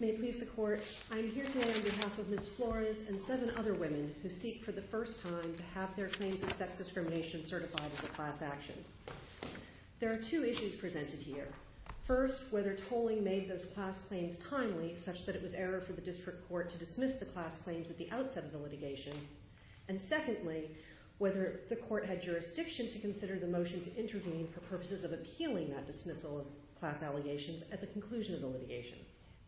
May it please the Court, I am here today on behalf of Ms. Flores and seven other women who seek for the first time to have their claims of sex discrimination certified as a class action. There are two issues presented here. First, whether tolling made those class claims timely, such that it was error for the District Court to dismiss the class claims at the outset of the litigation, and secondly, whether the Court had jurisdiction to consider the motion to intervene for purposes of appealing that dismissal of class allegations at the conclusion of the litigation.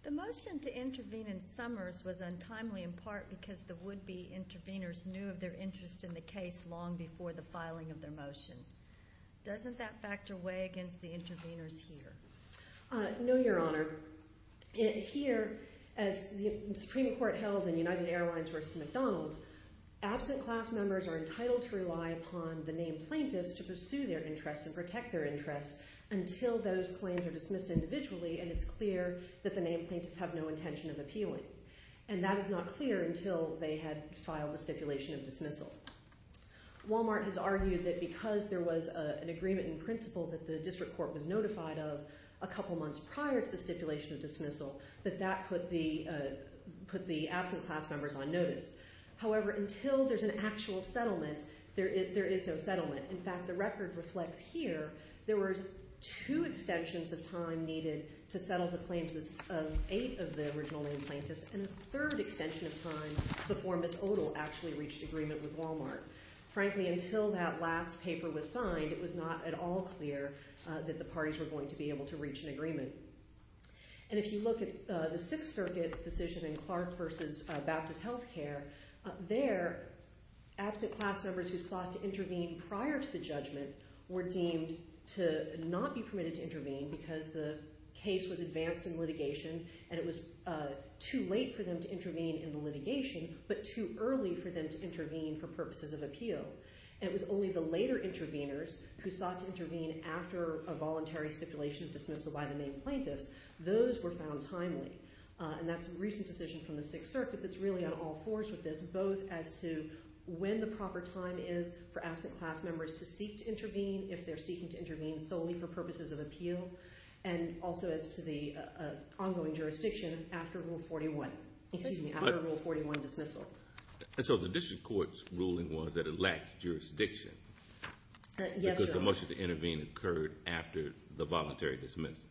The motion to intervene in Summers was untimely in part because the would-be intervenors knew of their interest in the case long before the filing of their motion. Doesn't that factor weigh against the intervenors here? No, Your Honor. Here, as the Supreme Court held in United Airlines v. McDonald, absent class members are entitled to rely upon the named plaintiffs to pursue their interests and protect their interests until those claims are dismissed individually and it's clear that the named plaintiffs have no intention of appealing. And that is not clear until they had filed the stipulation of dismissal. Wal-Mart has argued that because there was an agreement in principle that the District Court had a couple months prior to the stipulation of dismissal, that that put the absent class members on notice. However, until there's an actual settlement, there is no settlement. In fact, the record reflects here there were two extensions of time needed to settle the claims of eight of the original named plaintiffs and a third extension of time before Ms. Odle actually reached agreement with Wal-Mart. Frankly, until that last paper was signed, it was not at all clear that the parties were going to be able to reach an agreement. And if you look at the Sixth Circuit decision in Clark v. Baptist Healthcare, there absent class members who sought to intervene prior to the judgment were deemed to not be permitted to intervene because the case was advanced in litigation and it was too late for them to intervene in the litigation, but too early for them to intervene for purposes of appeal. And it was only the later intervenors who sought to intervene after a voluntary stipulation of dismissal by the named plaintiffs. Those were found timely, and that's a recent decision from the Sixth Circuit that's really on all fours with this, both as to when the proper time is for absent class members to seek to intervene, if they're seeking to intervene solely for purposes of appeal, and also as to the ongoing jurisdiction after Rule 41, excuse me, after Rule 41 dismissal. And so the district court's ruling was that it lacked jurisdiction because the motion to intervene occurred after the voluntary dismissal.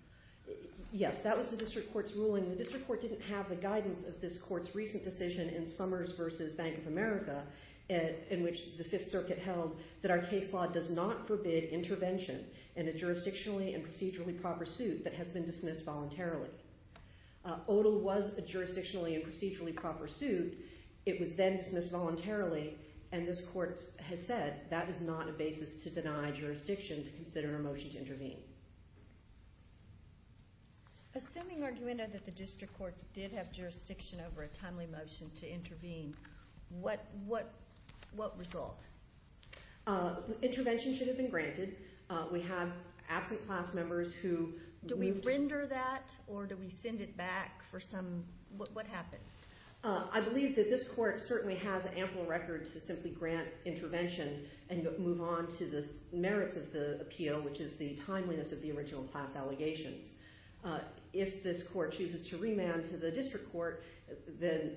Yes, that was the district court's ruling. The district court didn't have the guidance of this court's recent decision in Summers v. Bank of America, in which the Fifth Circuit held that our case law does not forbid intervention in a jurisdictionally and procedurally proper suit that has been dismissed voluntarily. ODAL was a jurisdictionally and procedurally proper suit. It was then dismissed voluntarily, and this court has said that is not a basis to deny jurisdiction to consider a motion to intervene. Assuming, Arguendo, that the district court did have jurisdiction over a timely motion to intervene, what result? Intervention should have been granted. We have absent class members who... Do we render that, or do we send it back for some... What happens? I believe that this court certainly has ample record to simply grant intervention and move on to the merits of the appeal, which is the timeliness of the original class allegations. If this court chooses to remand to the district court, then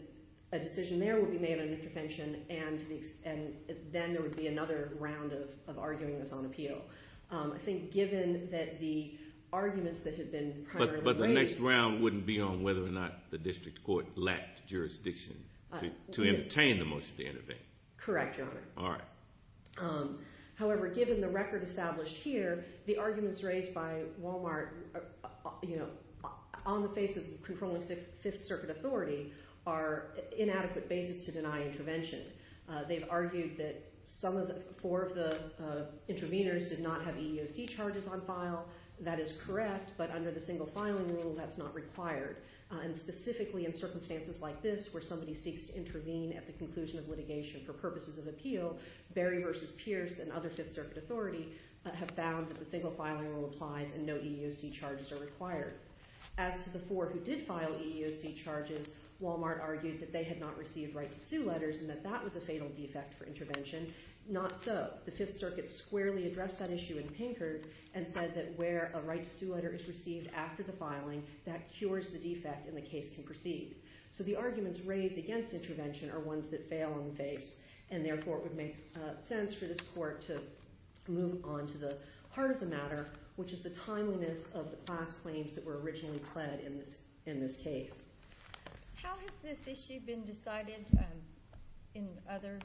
a decision there will be made on intervention, and then there would be another round of arguing this on appeal. I think given that the arguments that have been primarily raised... But the next round wouldn't be on whether or not the district court lacked jurisdiction to entertain the motion to intervene. Correct, Your Honor. All right. However, given the record established here, the arguments raised by Wal-Mart on the face of conforming Fifth Circuit authority are inadequate basis to deny intervention. They've argued that four of the interveners did not have EEOC charges on file. That is correct, but under the single filing rule, that's not required. And specifically in circumstances like this, where somebody seeks to intervene at the conclusion of litigation for purposes of appeal, Berry v. Pierce and other Fifth Circuit authority have found that the single filing rule applies and no EEOC charges are required. As to the four who did file EEOC charges, Wal-Mart argued that they had not received right-to-sue letters and that that was a fatal defect for intervention. Not so. The Fifth Circuit squarely addressed that issue in Pinkert and said that where a right-to-sue letter is received after the filing, that cures the defect and the case can proceed. So the arguments raised against intervention are ones that fail on the face, and therefore it would make sense for this court to move on to the heart of the matter, which is the timeliness of the class claims that were originally pled in this case. How has this issue been decided in other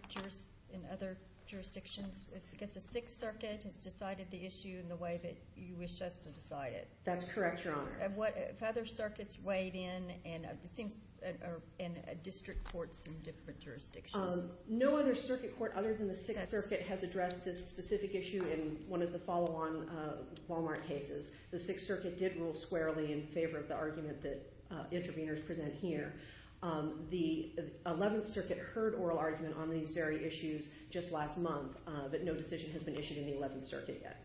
jurisdictions? I guess the Sixth Circuit has decided the issue in the way that you wish us to decide it. That's correct, Your Honor. Have other circuits weighed in, and it seems district courts in different jurisdictions. No other circuit court other than the Sixth Circuit has addressed this specific issue in one of the follow-on Wal-Mart cases. The Sixth Circuit did rule squarely in favor of the argument that interveners present here. The Eleventh Circuit heard oral argument on these very issues just last month, but no decision has been issued in the Eleventh Circuit yet.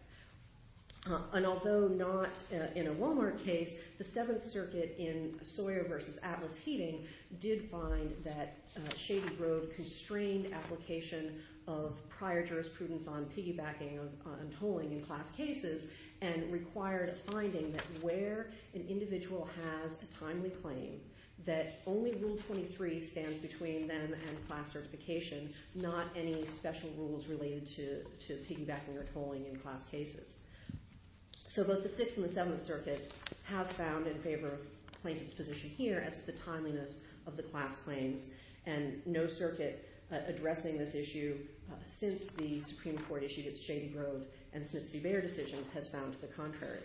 And although not in a Wal-Mart case, the Seventh Circuit in Sawyer v. Atlas Heating did find that Shady Grove constrained application of prior jurisprudence on piggybacking and tolling in class cases and required a finding that where an individual has a timely claim, that only Rule 23 stands between them and class certification, not any special rules related to piggybacking or tolling in class cases. So both the Sixth and the Seventh Circuit have found in favor of plaintiff's position here as to the timeliness of the class claims, and no circuit addressing this issue since the Supreme Court issued its Shady Grove and Smith v. Bayer decisions has found the contrary.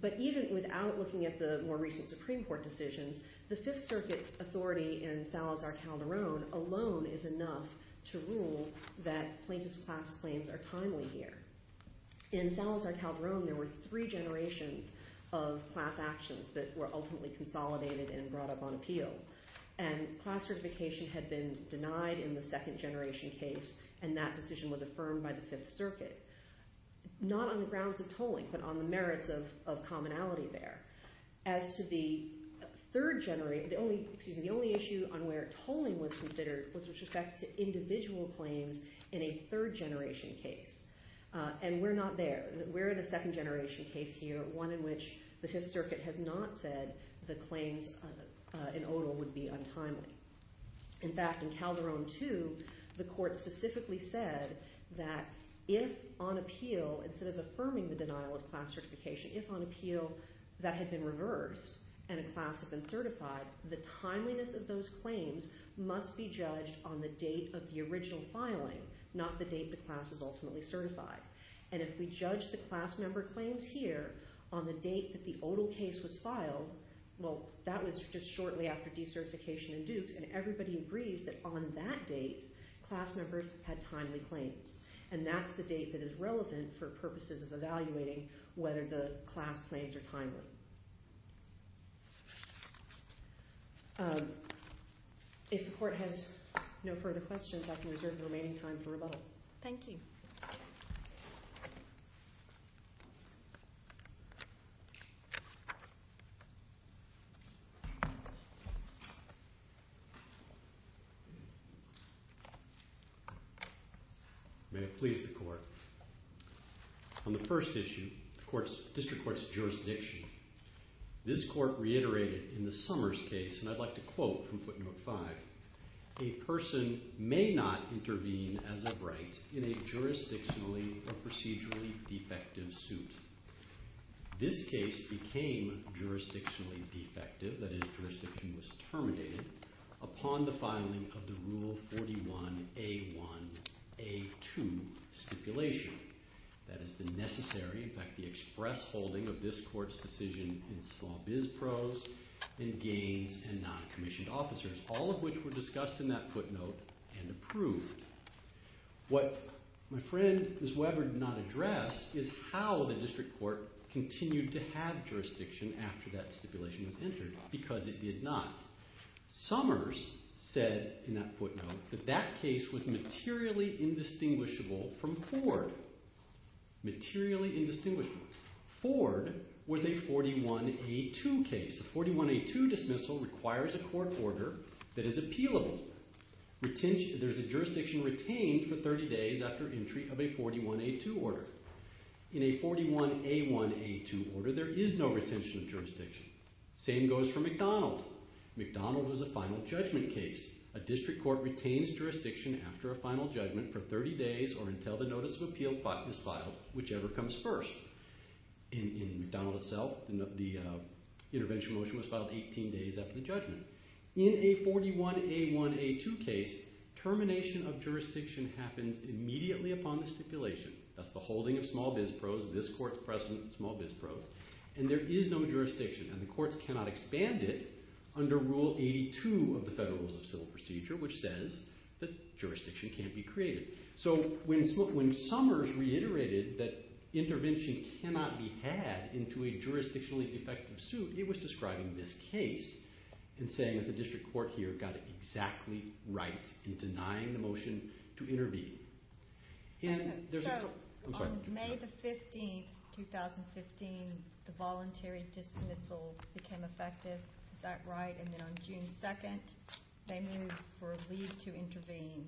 But even without looking at the more recent Supreme Court decisions, the Fifth Circuit authority in Salazar Calderon alone is enough to rule that plaintiff's class claims are timely here. In Salazar Calderon, there were three generations of class actions that were ultimately consolidated and brought up on appeal, and class certification had been denied in the second generation case, and that decision was affirmed by the Fifth Circuit, not on the grounds of tolling but on the merits of commonality there. As to the third generation, the only issue on where tolling was considered was with respect to individual claims in a third generation case, and we're not there. We're in a second generation case here, one in which the Fifth Circuit has not said the claims in Odal would be untimely. In fact, in Calderon 2, the court specifically said that if on appeal, instead of affirming the denial of class certification, if on appeal that had been reversed and a class had been certified, the timeliness of those claims must be judged on the date of the original filing, not the date the class is ultimately certified. And if we judge the class member claims here on the date that the Odal case was filed, well, that was just shortly after decertification in Dukes, and everybody agrees that on that date, class members had timely claims, and that's the date that is relevant for purposes of evaluating whether the class claims are timely. If the court has no further questions, I can reserve the remaining time for rebuttal. Thank you. May it please the court. On the first issue, the district court's jurisdiction, this court reiterated in the Summers case, and I'd like to quote from Footnote 5, a person may not intervene as a right in a jurisdictionally or procedurally defective suit. This case became jurisdictionally defective, that is, jurisdiction was terminated, upon the filing of the Rule 41A1A2 stipulation. That is the necessary, in fact, the express holding of this court's decision in small biz pros and gains and non-commissioned officers, all of which were discussed in that footnote and approved. What my friend, Ms. Weber, did not address is how the district court continued to have jurisdiction after that stipulation was entered, because it did not. Summers said in that footnote that that case was materially indistinguishable from Ford. Materially indistinguishable. Ford was a 41A2 case. A 41A2 dismissal requires a court order that is appealable. There's a jurisdiction retained for 30 days after entry of a 41A2 order. In a 41A1A2 order, there is no retention of jurisdiction. Same goes for McDonald. McDonald was a final judgment case. A district court retains jurisdiction after a final judgment for 30 days or until the notice of appeal is filed, whichever comes first. In McDonald itself, the intervention motion was filed 18 days after the judgment. In a 41A1A2 case, termination of jurisdiction happens immediately upon the stipulation. That's the holding of small biz pros. This court's precedent, small biz pros. And there is no jurisdiction. And the courts cannot expand it under Rule 82 of the Federal Rules of Civil Procedure, which says that jurisdiction can't be created. So when Summers reiterated that intervention cannot be had into a jurisdictionally effective suit, it was describing this case and saying that the district court here got it exactly right in denying the motion to intervene. And there's a... I'm sorry. So on May the 15th, 2015, the voluntary dismissal became effective. Is that right? And then on June 2nd, they moved for a leave to intervene.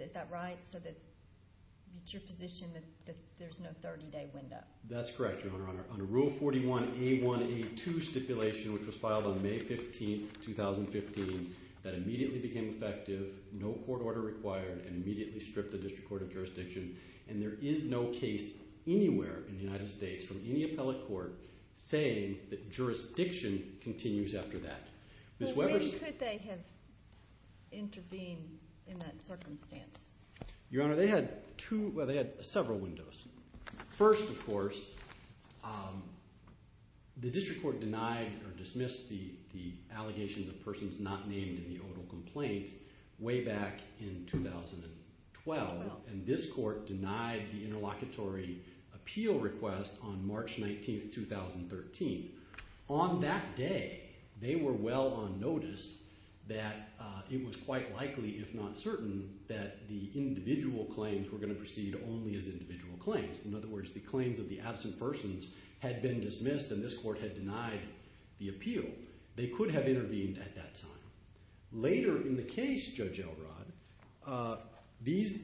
Is that right? So that it's your position that there's no 30-day window? That's correct, Your Honor. Under Rule 41A1A2 stipulation, which was filed on May 15th, 2015, that immediately became effective, no court order required, and immediately stripped the district court of jurisdiction. And there is no case anywhere in the United States from any appellate court saying that jurisdiction continues after that. But when could they have intervened in that circumstance? Your Honor, they had several windows. First, of course, the district court denied or dismissed the allegations of persons not named in the odal complaint way back in 2012. And this court denied the interlocutory appeal request on March 19th, 2013. On that day, they were well on notice that it was quite likely, if not certain, that the individual claims were going to proceed only as individual claims. In other words, the claims of the absent persons had been dismissed, and this court had denied the appeal. They could have intervened at that time. Later in the case, Judge Elrod, these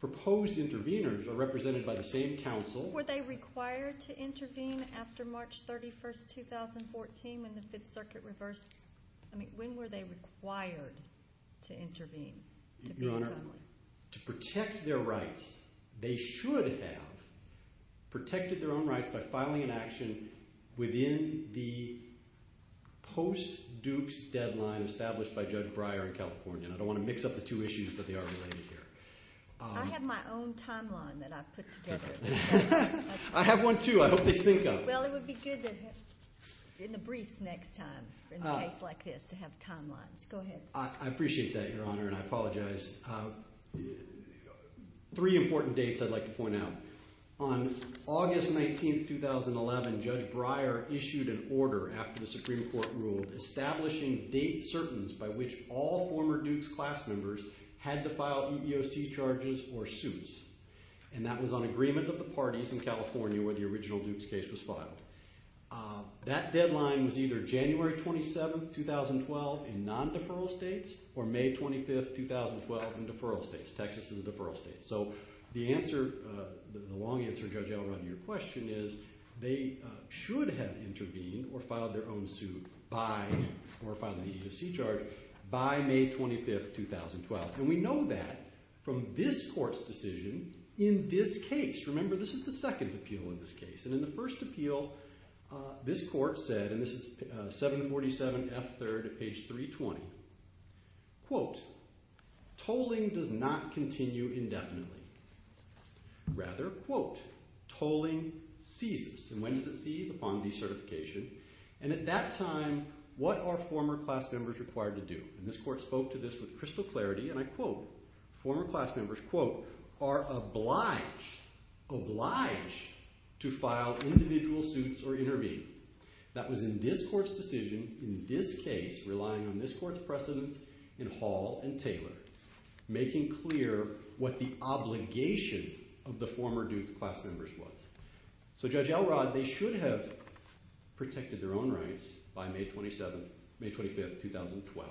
proposed intervenors are represented by the same counsel. Were they required to intervene after March 31st, 2014, when the Fifth Circuit reversed? When were they required to intervene? Your Honor, to protect their rights, they should have protected their own rights by filing an action within the post-Dukes deadline established by Judge Breyer in California. I don't want to mix up the two issues, but they are related here. I have my own timeline that I've put together. I have one too. I hope they sync up. Well, it would be good in the briefs next time, in a case like this, to have timelines. Go ahead. I appreciate that, Your Honor, and I apologize. Three important dates I'd like to point out. On August 19th, 2011, Judge Breyer issued an order, after the Supreme Court ruled, establishing date certains by which all former Dukes class members had to file EEOC charges or suits, and that was on agreement of the parties in California where the original Dukes case was filed. That deadline was either January 27th, 2012, in non-deferral states, or May 25th, 2012, in deferral states. Texas is a deferral state. So the long answer, Judge Elrod, to your question is they should have intervened or filed their own suit by, or filed an EEOC charge, by May 25th, 2012. And we know that from this Court's decision in this case. Remember, this is the second appeal in this case. And in the first appeal, this Court said, and this is 747F3rd, page 320, quote, tolling does not continue indefinitely. Rather, quote, tolling ceases. And when does it cease? Upon decertification. And at that time, what are former class members required to do? And this Court spoke to this with crystal clarity, and I quote, former class members, quote, are obliged, obliged, to file individual suits or intervene. That was in this Court's decision in this case, relying on this Court's precedence in Hall and Taylor, making clear what the obligation of the former Duke class members was. So Judge Elrod, they should have protected their own rights by May 27th, May 25th, 2012.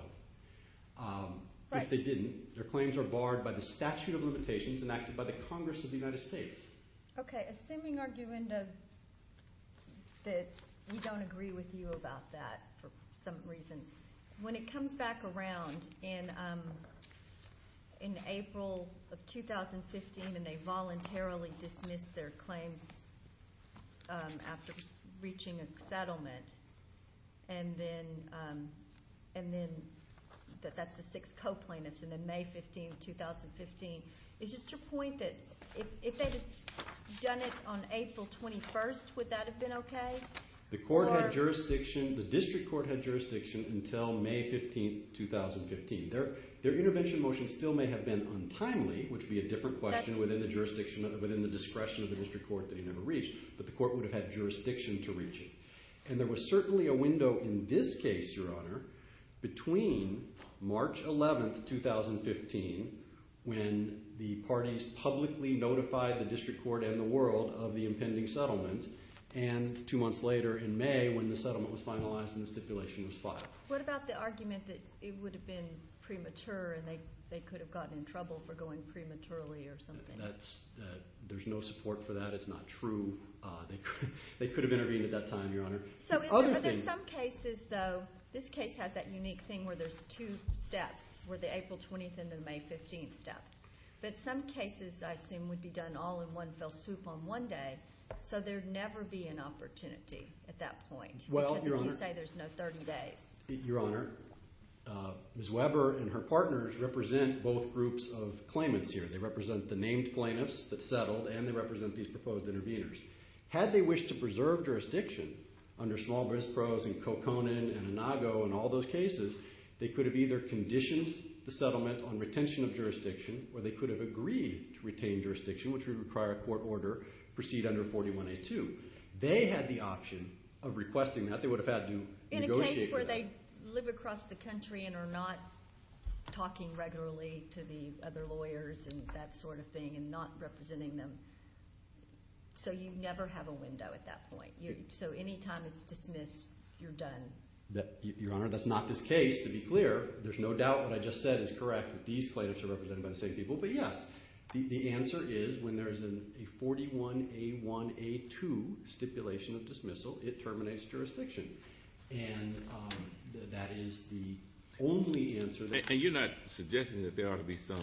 But they didn't. Their claims are barred by the statute of limitations enacted by the Congress of the United States. Okay. Assuming, Arguinda, that we don't agree with you about that for some reason, when it comes back around in April of 2015 and they voluntarily dismiss their claims after reaching a settlement, and then that's the six co-plaintiffs, and then May 15th, 2015, is it to your point that if they had done it on April 21st, would that have been okay? The District Court had jurisdiction until May 15th, 2015. Their intervention motion still may have been untimely, which would be a different question within the discretion of the District Court that he never reached, but the Court would have had jurisdiction to reach it. And there was certainly a window in this case, Your Honor, between March 11th, 2015, when the parties publicly notified the District Court and the world of the impending settlement, and two months later in May when the settlement was finalized and the stipulation was filed. What about the argument that it would have been premature and they could have gotten in trouble for going prematurely or something? There's no support for that. It's not true. They could have intervened at that time, Your Honor. But there's some cases, though, this case has that unique thing where there's two steps, where the April 20th and the May 15th step. But some cases, I assume, would be done all in one fell swoop on one day, so there'd never be an opportunity at that point, because if you say there's no 30 days. Your Honor, Ms. Weber and her partners represent both groups of claimants here. They represent the named plaintiffs that settled, and they represent these proposed interveners. Had they wished to preserve jurisdiction under small bris pros in Coconin and Inago and all those cases, they could have either conditioned the settlement on retention of jurisdiction or they could have agreed to retain jurisdiction, which would require a court order, proceed under 41A2. They had the option of requesting that. They would have had to negotiate that. In a case where they live across the country and are not talking regularly to the other lawyers and that sort of thing and not representing them. So you never have a window at that point. So any time it's dismissed, you're done. Your Honor, that's not this case, to be clear. There's no doubt what I just said is correct, that these plaintiffs are represented by the same people. But yes, the answer is when there is a 41A1A2 stipulation of dismissal, it terminates jurisdiction. And that is the only answer that... And you're not suggesting that there ought to be some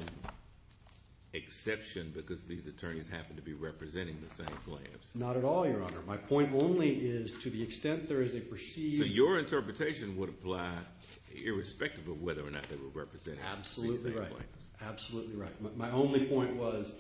exception because these attorneys happen to be representing the same plaintiffs. Not at all, Your Honor. My point only is to the extent there is a perceived... So your interpretation would apply irrespective of whether or not they were representing the same plaintiffs. Absolutely right. Absolutely right. My only point was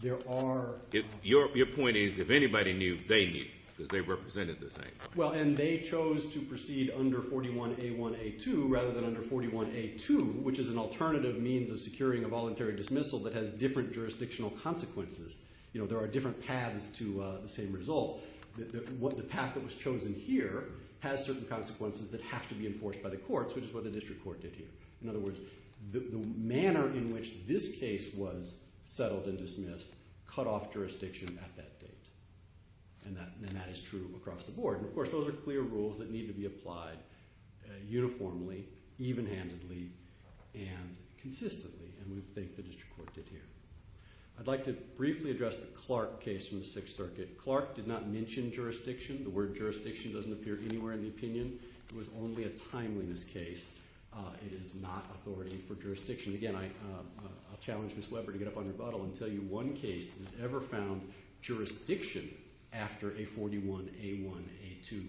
there are... Your point is if anybody knew, they knew because they represented the same plaintiffs. Well, and they chose to proceed under 41A1A2 rather than under 41A2, which is an alternative means of securing a voluntary dismissal that has different jurisdictional consequences. There are different paths to the same result. The path that was chosen here has certain consequences that have to be enforced by the courts, which is what the district court did here. In other words, the manner in which this case was settled and dismissed cut off jurisdiction at that date. And that is true across the board. Of course, those are clear rules that need to be applied uniformly, even-handedly, and consistently. And we think the district court did here. I'd like to briefly address the Clark case from the Sixth Circuit. Clark did not mention jurisdiction. The word jurisdiction doesn't appear anywhere in the opinion. It was only a timeliness case. It is not authority for jurisdiction. Again, I challenge Ms. Weber to get up on her buttock has ever found jurisdiction after a 41A1A2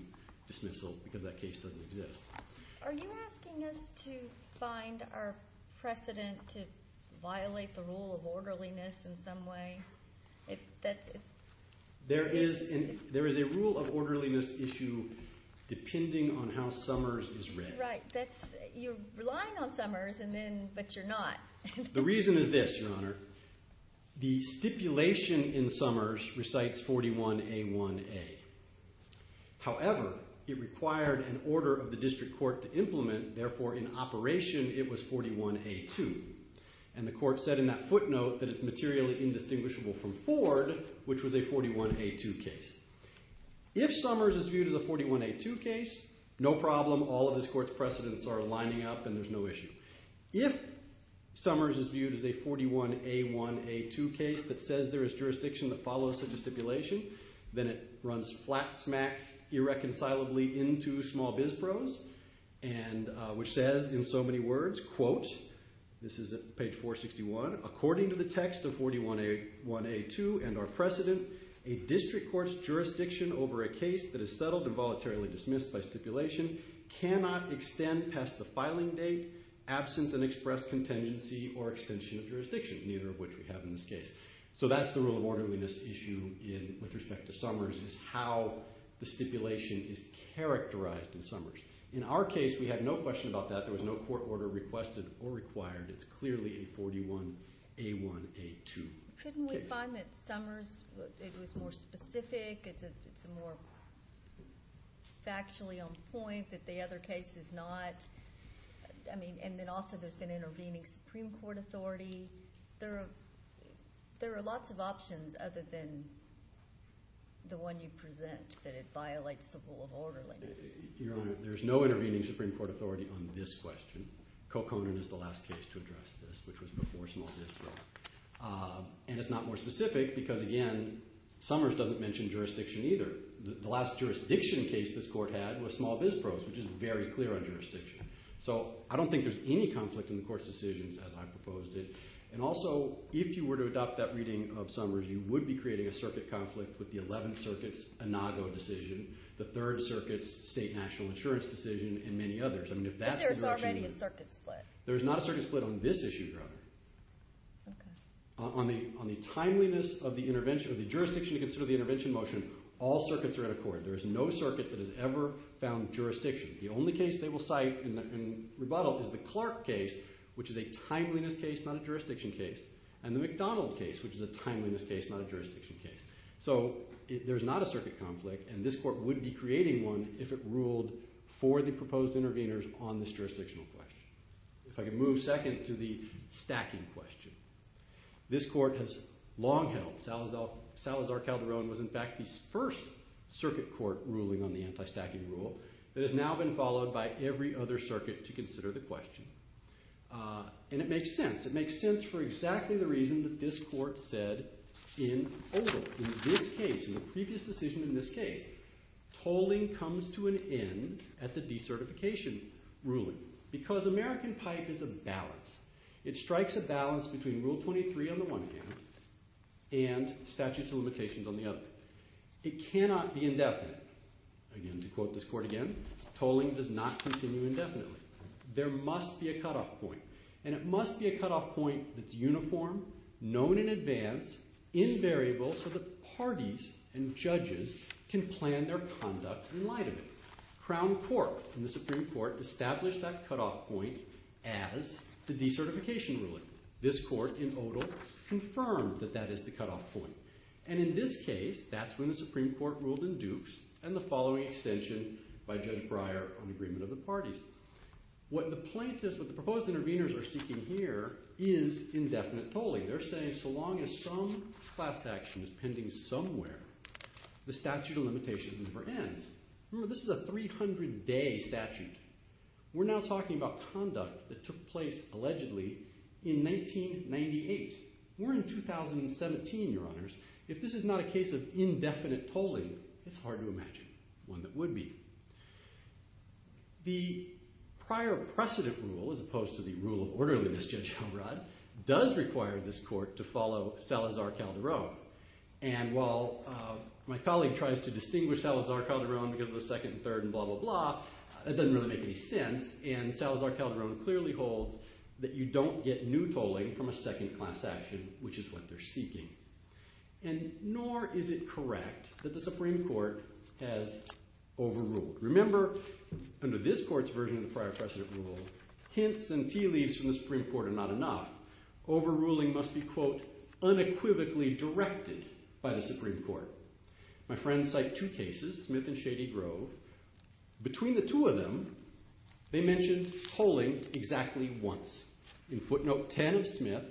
dismissal because that case doesn't exist. Are you asking us to find our precedent to violate the rule of orderliness in some way? There is a rule of orderliness issue depending on how Summers is read. Right. You're relying on Summers, but you're not. The reason is this, Your Honor. The stipulation in Summers recites 41A1A. However, it required an order of the district court to implement. Therefore, in operation, it was 41A2. And the court said in that footnote that it's materially indistinguishable from Ford, which was a 41A2 case. If Summers is viewed as a 41A2 case, no problem. All of this court's precedents are lining up and there's no issue. If Summers is viewed as a 41A1A2 case that says there is jurisdiction that follows such a stipulation, then it runs flat-smack irreconcilably into small-biz prose, which says in so many words, quote, this is at page 461, according to the text of 41A1A2 and our precedent, a district court's jurisdiction over a case that is settled and voluntarily dismissed by stipulation cannot extend past the filing date, absent an express contingency or extension of jurisdiction, neither of which we have in this case. So that's the rule of orderliness issue with respect to Summers is how the stipulation is characterized in Summers. In our case, we had no question about that. There was no court order requested or required. It's clearly a 41A1A2 case. Couldn't we find that Summers, it was more specific, it's more factually on point that the other case is not? I mean, and then also there's been intervening Supreme Court authority. There are lots of options other than the one you present, that it violates the rule of orderliness. Your Honor, there's no intervening Supreme Court authority on this question. Coconin is the last case to address this, which was before small-biz prose. And it's not more specific because, again, Summers doesn't mention jurisdiction either. The last jurisdiction case this court had was small-biz prose, which is very clear on jurisdiction. So I don't think there's any conflict in the court's decisions, as I proposed it. And also, if you were to adopt that reading of Summers, you would be creating a circuit conflict with the 11th Circuit's Inago decision, the 3rd Circuit's state national insurance decision, and many others. But there's already a circuit split. There's not a circuit split on this issue, Your Honor. On the timeliness of the jurisdiction to consider the intervention motion, all circuits are in accord. There is no circuit that has ever found jurisdiction. The only case they will cite in rebuttal is the Clark case, which is a timeliness case, not a jurisdiction case, and the McDonald case, which is a timeliness case, not a jurisdiction case. So there's not a circuit conflict, and this court would be creating one if it ruled for the proposed interveners on this jurisdictional question. If I could move second to the stacking question. This court has long held Salazar Calderon was, in fact, the first circuit court ruling on the anti-stacking rule that has now been followed by every other circuit to consider the question. And it makes sense. It makes sense for exactly the reason that this court said in Oval, in this case, in the previous decision in this case, tolling comes to an end at the decertification ruling because American pipe is a balance. It strikes a balance between Rule 23 on the one hand and statutes of limitations on the other. It cannot be indefinite. Again, to quote this court again, tolling does not continue indefinitely. There must be a cutoff point, and it must be a cutoff point that's uniform, known in advance, invariable so that parties and judges can plan their conduct in light of it. Crown Court in the Supreme Court established that cutoff point as the decertification ruling. This court in Odal confirmed that that is the cutoff point. And in this case, that's when the Supreme Court ruled in Dukes and the following extension by Judge Breyer on agreement of the parties. What the plaintiffs, what the proposed interveners are seeking here is indefinite tolling. They're saying so long as some class action is pending somewhere, the statute of limitations never ends. Remember, this is a 300-day statute. We're now talking about conduct that took place allegedly in 1998. We're in 2017, Your Honors. If this is not a case of indefinite tolling, it's hard to imagine one that would be. The prior precedent rule, as opposed to the rule of orderliness, Judge Elrod, does require this court to follow Salazar-Calderon. And while my colleague tries to distinguish Salazar-Calderon because of the second and third and blah, blah, blah, it doesn't really make any sense. And Salazar-Calderon clearly holds that you don't get new tolling from a second class action, which is what they're seeking. And nor is it correct that the Supreme Court has overruled. Remember, under this court's version of the prior precedent rule, hints and tea leaves from the Supreme Court are not enough. Overruling must be, quote, unequivocally directed by the Supreme Court. My friends cite two cases, Smith and Shady Grove. Between the two of them, they mention tolling exactly once, in footnote 10 of Smith,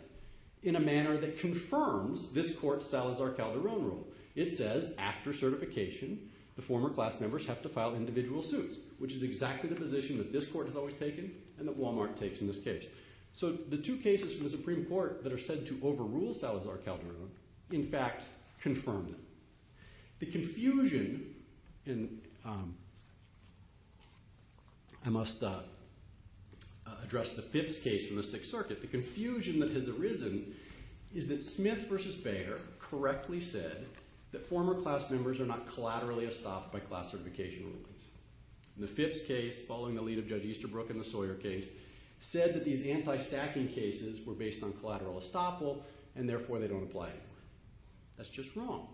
in a manner that confirms this court's Salazar-Calderon rule. It says, after certification, the former class members have to file individual suits, which is exactly the position that this court has always taken and that Walmart takes in this case. So the two cases from the Supreme Court that are said to overrule Salazar-Calderon, in fact, confirm them. The confusion, and I must address the fifth case from the Sixth Circuit, the confusion that has arisen is that Smith v. Baer correctly said that former class members are not collaterally estopped by class certification rulings. In the fifth case, following the lead of Judge Easterbrook in the Sawyer case, said that these anti-stacking cases were based on collateral estoppel, and therefore they don't apply anymore. That's just wrong.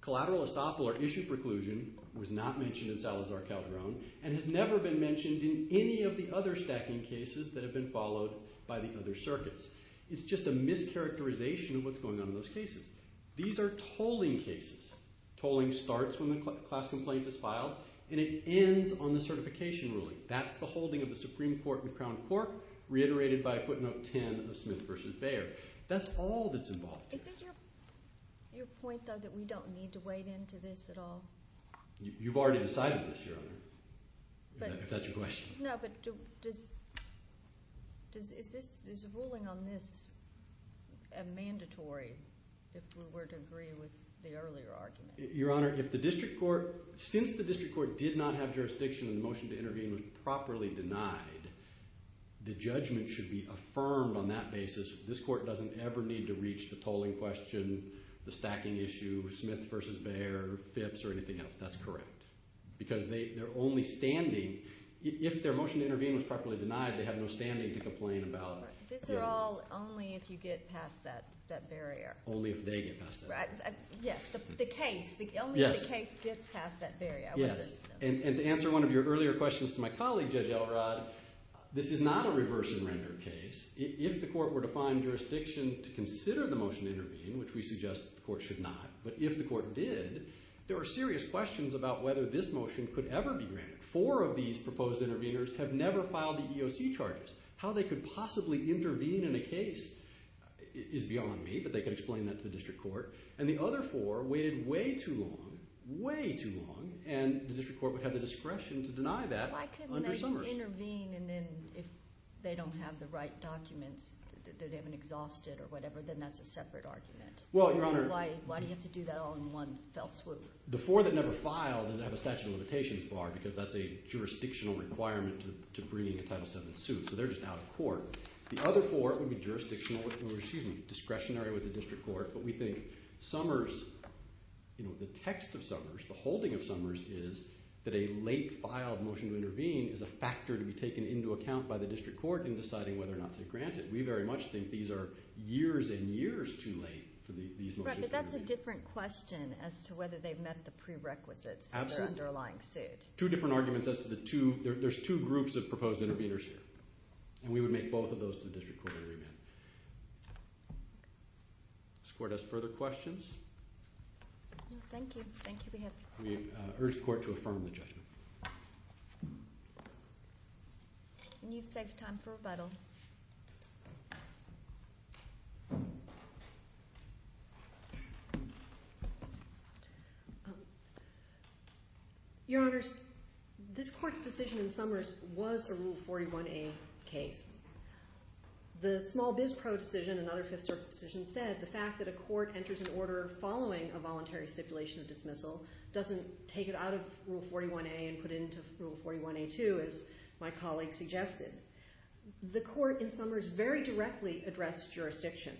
Collateral estoppel or issue preclusion was not mentioned in Salazar-Calderon and has never been mentioned in any of the other stacking cases that have been followed by the other circuits. It's just a mischaracterization of what's going on in those cases. These are tolling cases. Tolling starts when the class complaint is filed, and it ends on the certification ruling. That's the holding of the Supreme Court in the Crown Court, reiterated by a footnote 10 of Smith v. Baer. That's all that's involved here. Is it your point, though, that we don't need to wade into this at all? You've already decided this, Your Honor, if that's your question. No, but is a ruling on this a mandatory if we were to agree with the earlier argument? Your Honor, since the district court did not have jurisdiction and the motion to intervene was properly denied, the judgment should be affirmed on that basis. This court doesn't ever need to reach the tolling question, the stacking issue, Smith v. Baer, FIPS, or anything else. That's correct. Because they're only standing. If their motion to intervene was properly denied, they have no standing to complain about. These are all only if you get past that barrier. Only if they get past that barrier. Yes, the case. Only if the case gets past that barrier. Yes, and to answer one of your earlier questions to my colleague, Judge Elrod, this is not a reverse-and-render case. If the court were to find jurisdiction to consider the motion to intervene, which we suggest the court should not, but if the court did, there are serious questions about whether this motion could ever be granted. Four of these proposed interveners have never filed the EOC charges. How they could possibly intervene in a case is beyond me, but they could explain that to the district court. And the other four waited way too long, way too long, and the district court would have the discretion to deny that under Summers. Why couldn't they intervene, and then if they don't have the right documents, that they haven't exhausted or whatever, then that's a separate argument? Well, Your Honor— Why do you have to do that all in one fell swoop? The four that never filed have a statute of limitations bar because that's a jurisdictional requirement to bringing a Title VII suit. So they're just out of court. The other four would be jurisdictional— or, excuse me, discretionary with the district court. But we think Summers—the text of Summers, the holding of Summers is that a late file of motion to intervene is a factor to be taken into account by the district court in deciding whether or not to grant it. We very much think these are years and years too late for these motions to intervene. Right, but that's a different question as to whether they've met the prerequisites of their underlying suit. Two different arguments as to the two— there's two groups of proposed interveners here, and we would make both of those to the district court to revet. This court has further questions? No, thank you. Thank you, be happy. We urge the court to affirm the judgment. And you've saved time for rebuttal. Your Honors, this court's decision in Summers was a Rule 41a case. The small biz pro decision, another Fifth Circuit decision, said the fact that a court enters an order following a voluntary stipulation of dismissal doesn't take it out of Rule 41a and put it into Rule 41a2, The small biz pro decision, another Fifth Circuit decision, the court in Summers very directly addressed jurisdiction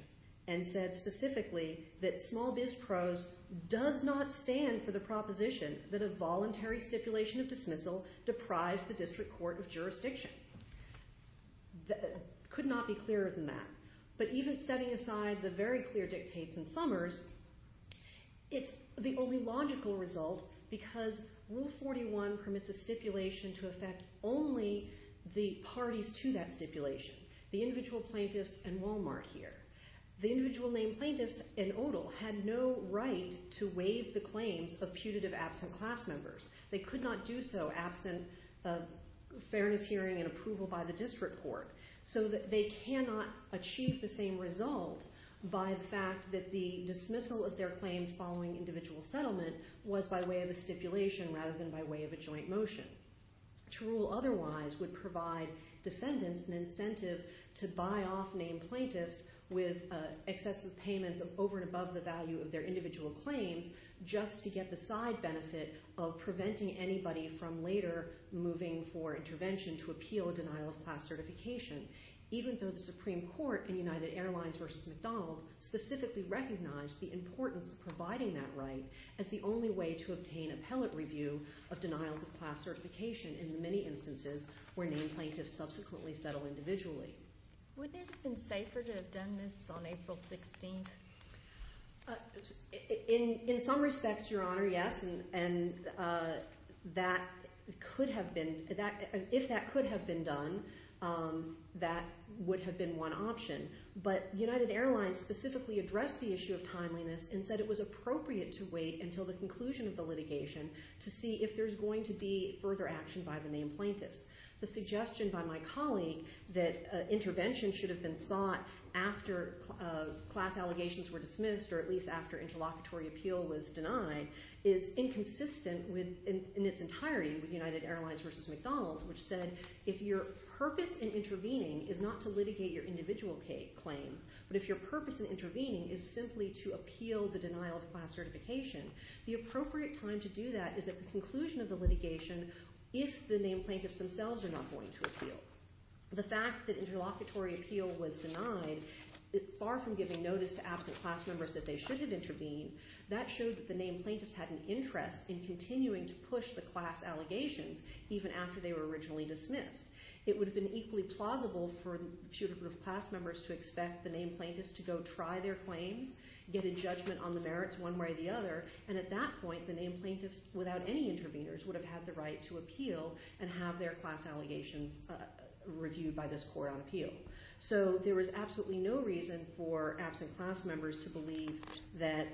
and said specifically that small biz pros does not stand for the proposition that a voluntary stipulation of dismissal deprives the district court of jurisdiction. Could not be clearer than that. But even setting aside the very clear dictates in Summers, it's the only logical result because Rule 41 permits a stipulation to affect only the parties to that stipulation. The individual plaintiffs and Walmart here. The individual named plaintiffs and Odal had no right to waive the claims of putative absent class members. They could not do so absent of fairness hearing and approval by the district court. So they cannot achieve the same result by the fact that the dismissal of their claims following individual settlement was by way of a stipulation rather than by way of a joint motion. To rule otherwise would provide defendants an incentive to buy off named plaintiffs with excessive payments of over and above the value of their individual claims just to get the side benefit of preventing anybody from later moving for intervention to appeal a denial of class certification. Even though the Supreme Court in United Airlines v. McDonald specifically recognized the importance of providing that right as the only way to obtain appellate review of denials of class certification in the many instances where named plaintiffs subsequently settle individually. Would it have been safer to have done this on April 16th? In some respects, Your Honor, yes. And that could have been... If that could have been done, that would have been one option. But United Airlines specifically addressed the issue of timeliness and said it was appropriate to wait until the conclusion of the litigation to see if there's going to be further action by the named plaintiffs. The suggestion by my colleague that intervention should have been sought after class allegations were dismissed or at least after interlocutory appeal was denied is inconsistent in its entirety with United Airlines v. McDonald which said if your purpose in intervening is not to litigate your individual claim but if your purpose in intervening is simply to appeal the denial of class certification the appropriate time to do that is at the conclusion of the litigation if the named plaintiffs themselves are not going to appeal. The fact that interlocutory appeal was denied far from giving notice to absent class members that they should have intervened that showed that the named plaintiffs had an interest in continuing to push the class allegations even after they were originally dismissed. It would have been equally plausible for the putative class members to expect the named plaintiffs to go try their claims get a judgment on the merits one way or the other and at that point the named plaintiffs without any interveners would have had the right to appeal and have their class allegations reviewed by this court on appeal. So there was absolutely no reason for absent class members to believe that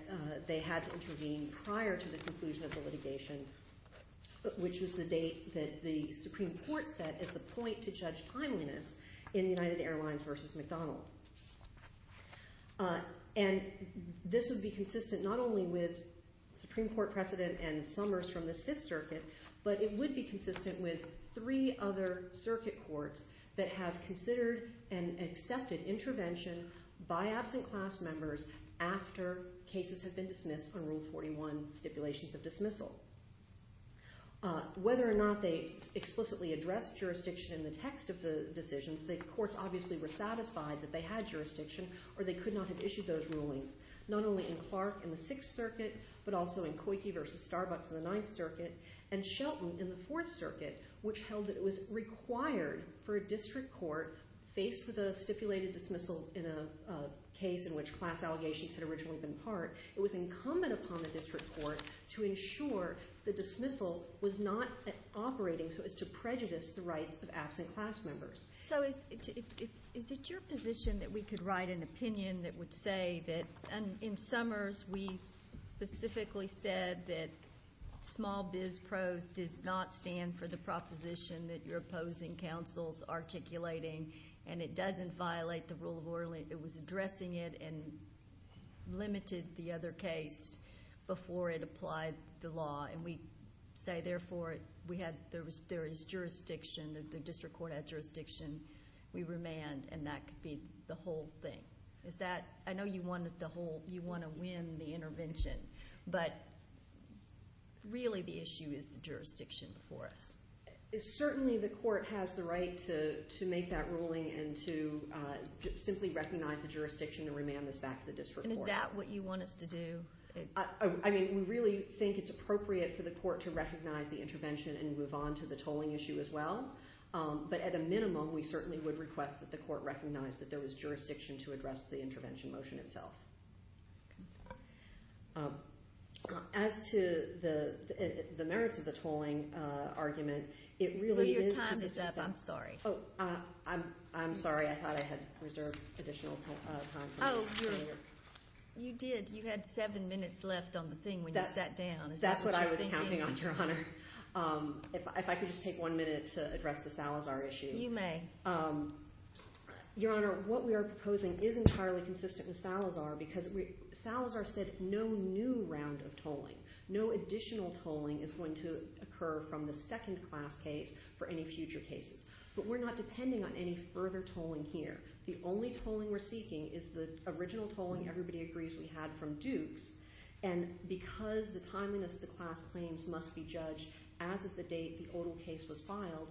they had to intervene prior to the conclusion of the litigation which was the date that the Supreme Court set as the point to judge timeliness in United Airlines v. McDonald. And this would be consistent not only with Supreme Court precedent and Summers from the Fifth Circuit but it would be consistent with three other circuit courts that have considered and accepted intervention by absent class members after cases have been dismissed on Rule 41 stipulations of dismissal. Whether or not they explicitly addressed jurisdiction in the text of the decisions, the courts obviously were satisfied that they had jurisdiction or they could not have issued those rulings not only in Clark in the Sixth Circuit but also in Coyke v. Starbucks in the Ninth Circuit and Shelton in the Fourth Circuit which held that it was required for a district court faced with a stipulated dismissal in a case in which class allegations had originally been part it was incumbent upon the district court to ensure the dismissal was not operating so as to prejudice the rights of absent class members. So is it your position that we could write an opinion that would say that in Summers we specifically said that small biz prose does not stand for the proposition that you're opposing counsel's articulating and it doesn't violate the Rule of Ordinance and it was addressing it and limited the other case before it applied the law and we say therefore there is jurisdiction, the district court had jurisdiction we remand and that could be the whole thing. I know you want to win the intervention but really the issue is the jurisdiction before us. Certainly the court has the right to make that ruling and to simply recognize the jurisdiction and remand this back to the district court. Is that what you want us to do? We really think it's appropriate for the court to recognize the intervention and move on to the tolling issue as well but at a minimum we certainly would request that the court recognize that there was jurisdiction to address the intervention motion itself. As to the merits of the tolling argument Your time is up, I'm sorry. I'm sorry, I thought I had reserved additional time. You did, you had seven minutes left on the thing when you sat down. That's what I was counting on, Your Honor. If I could just take one minute to address the Salazar issue. You may. Your Honor, what we are proposing isn't entirely consistent with Salazar because Salazar said no new round of tolling. No additional tolling is going to occur from the second class case for any future cases. But we're not depending on any further tolling here. The only tolling we're seeking is the original tolling everybody agrees we had from Duke's and because the timeliness of the class claims must be judged as of the date the odal case was filed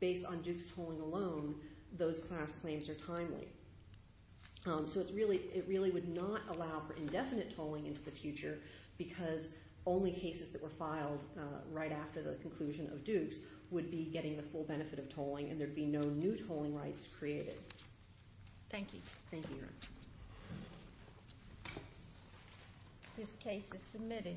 based on Duke's tolling alone, those class claims are timely. So it really would not allow for indefinite tolling into the future because only cases that were filed right after the conclusion of Duke's would be getting the full benefit of tolling and there would be no new tolling rights created. Thank you. Thank you, Your Honor. This case is submitted.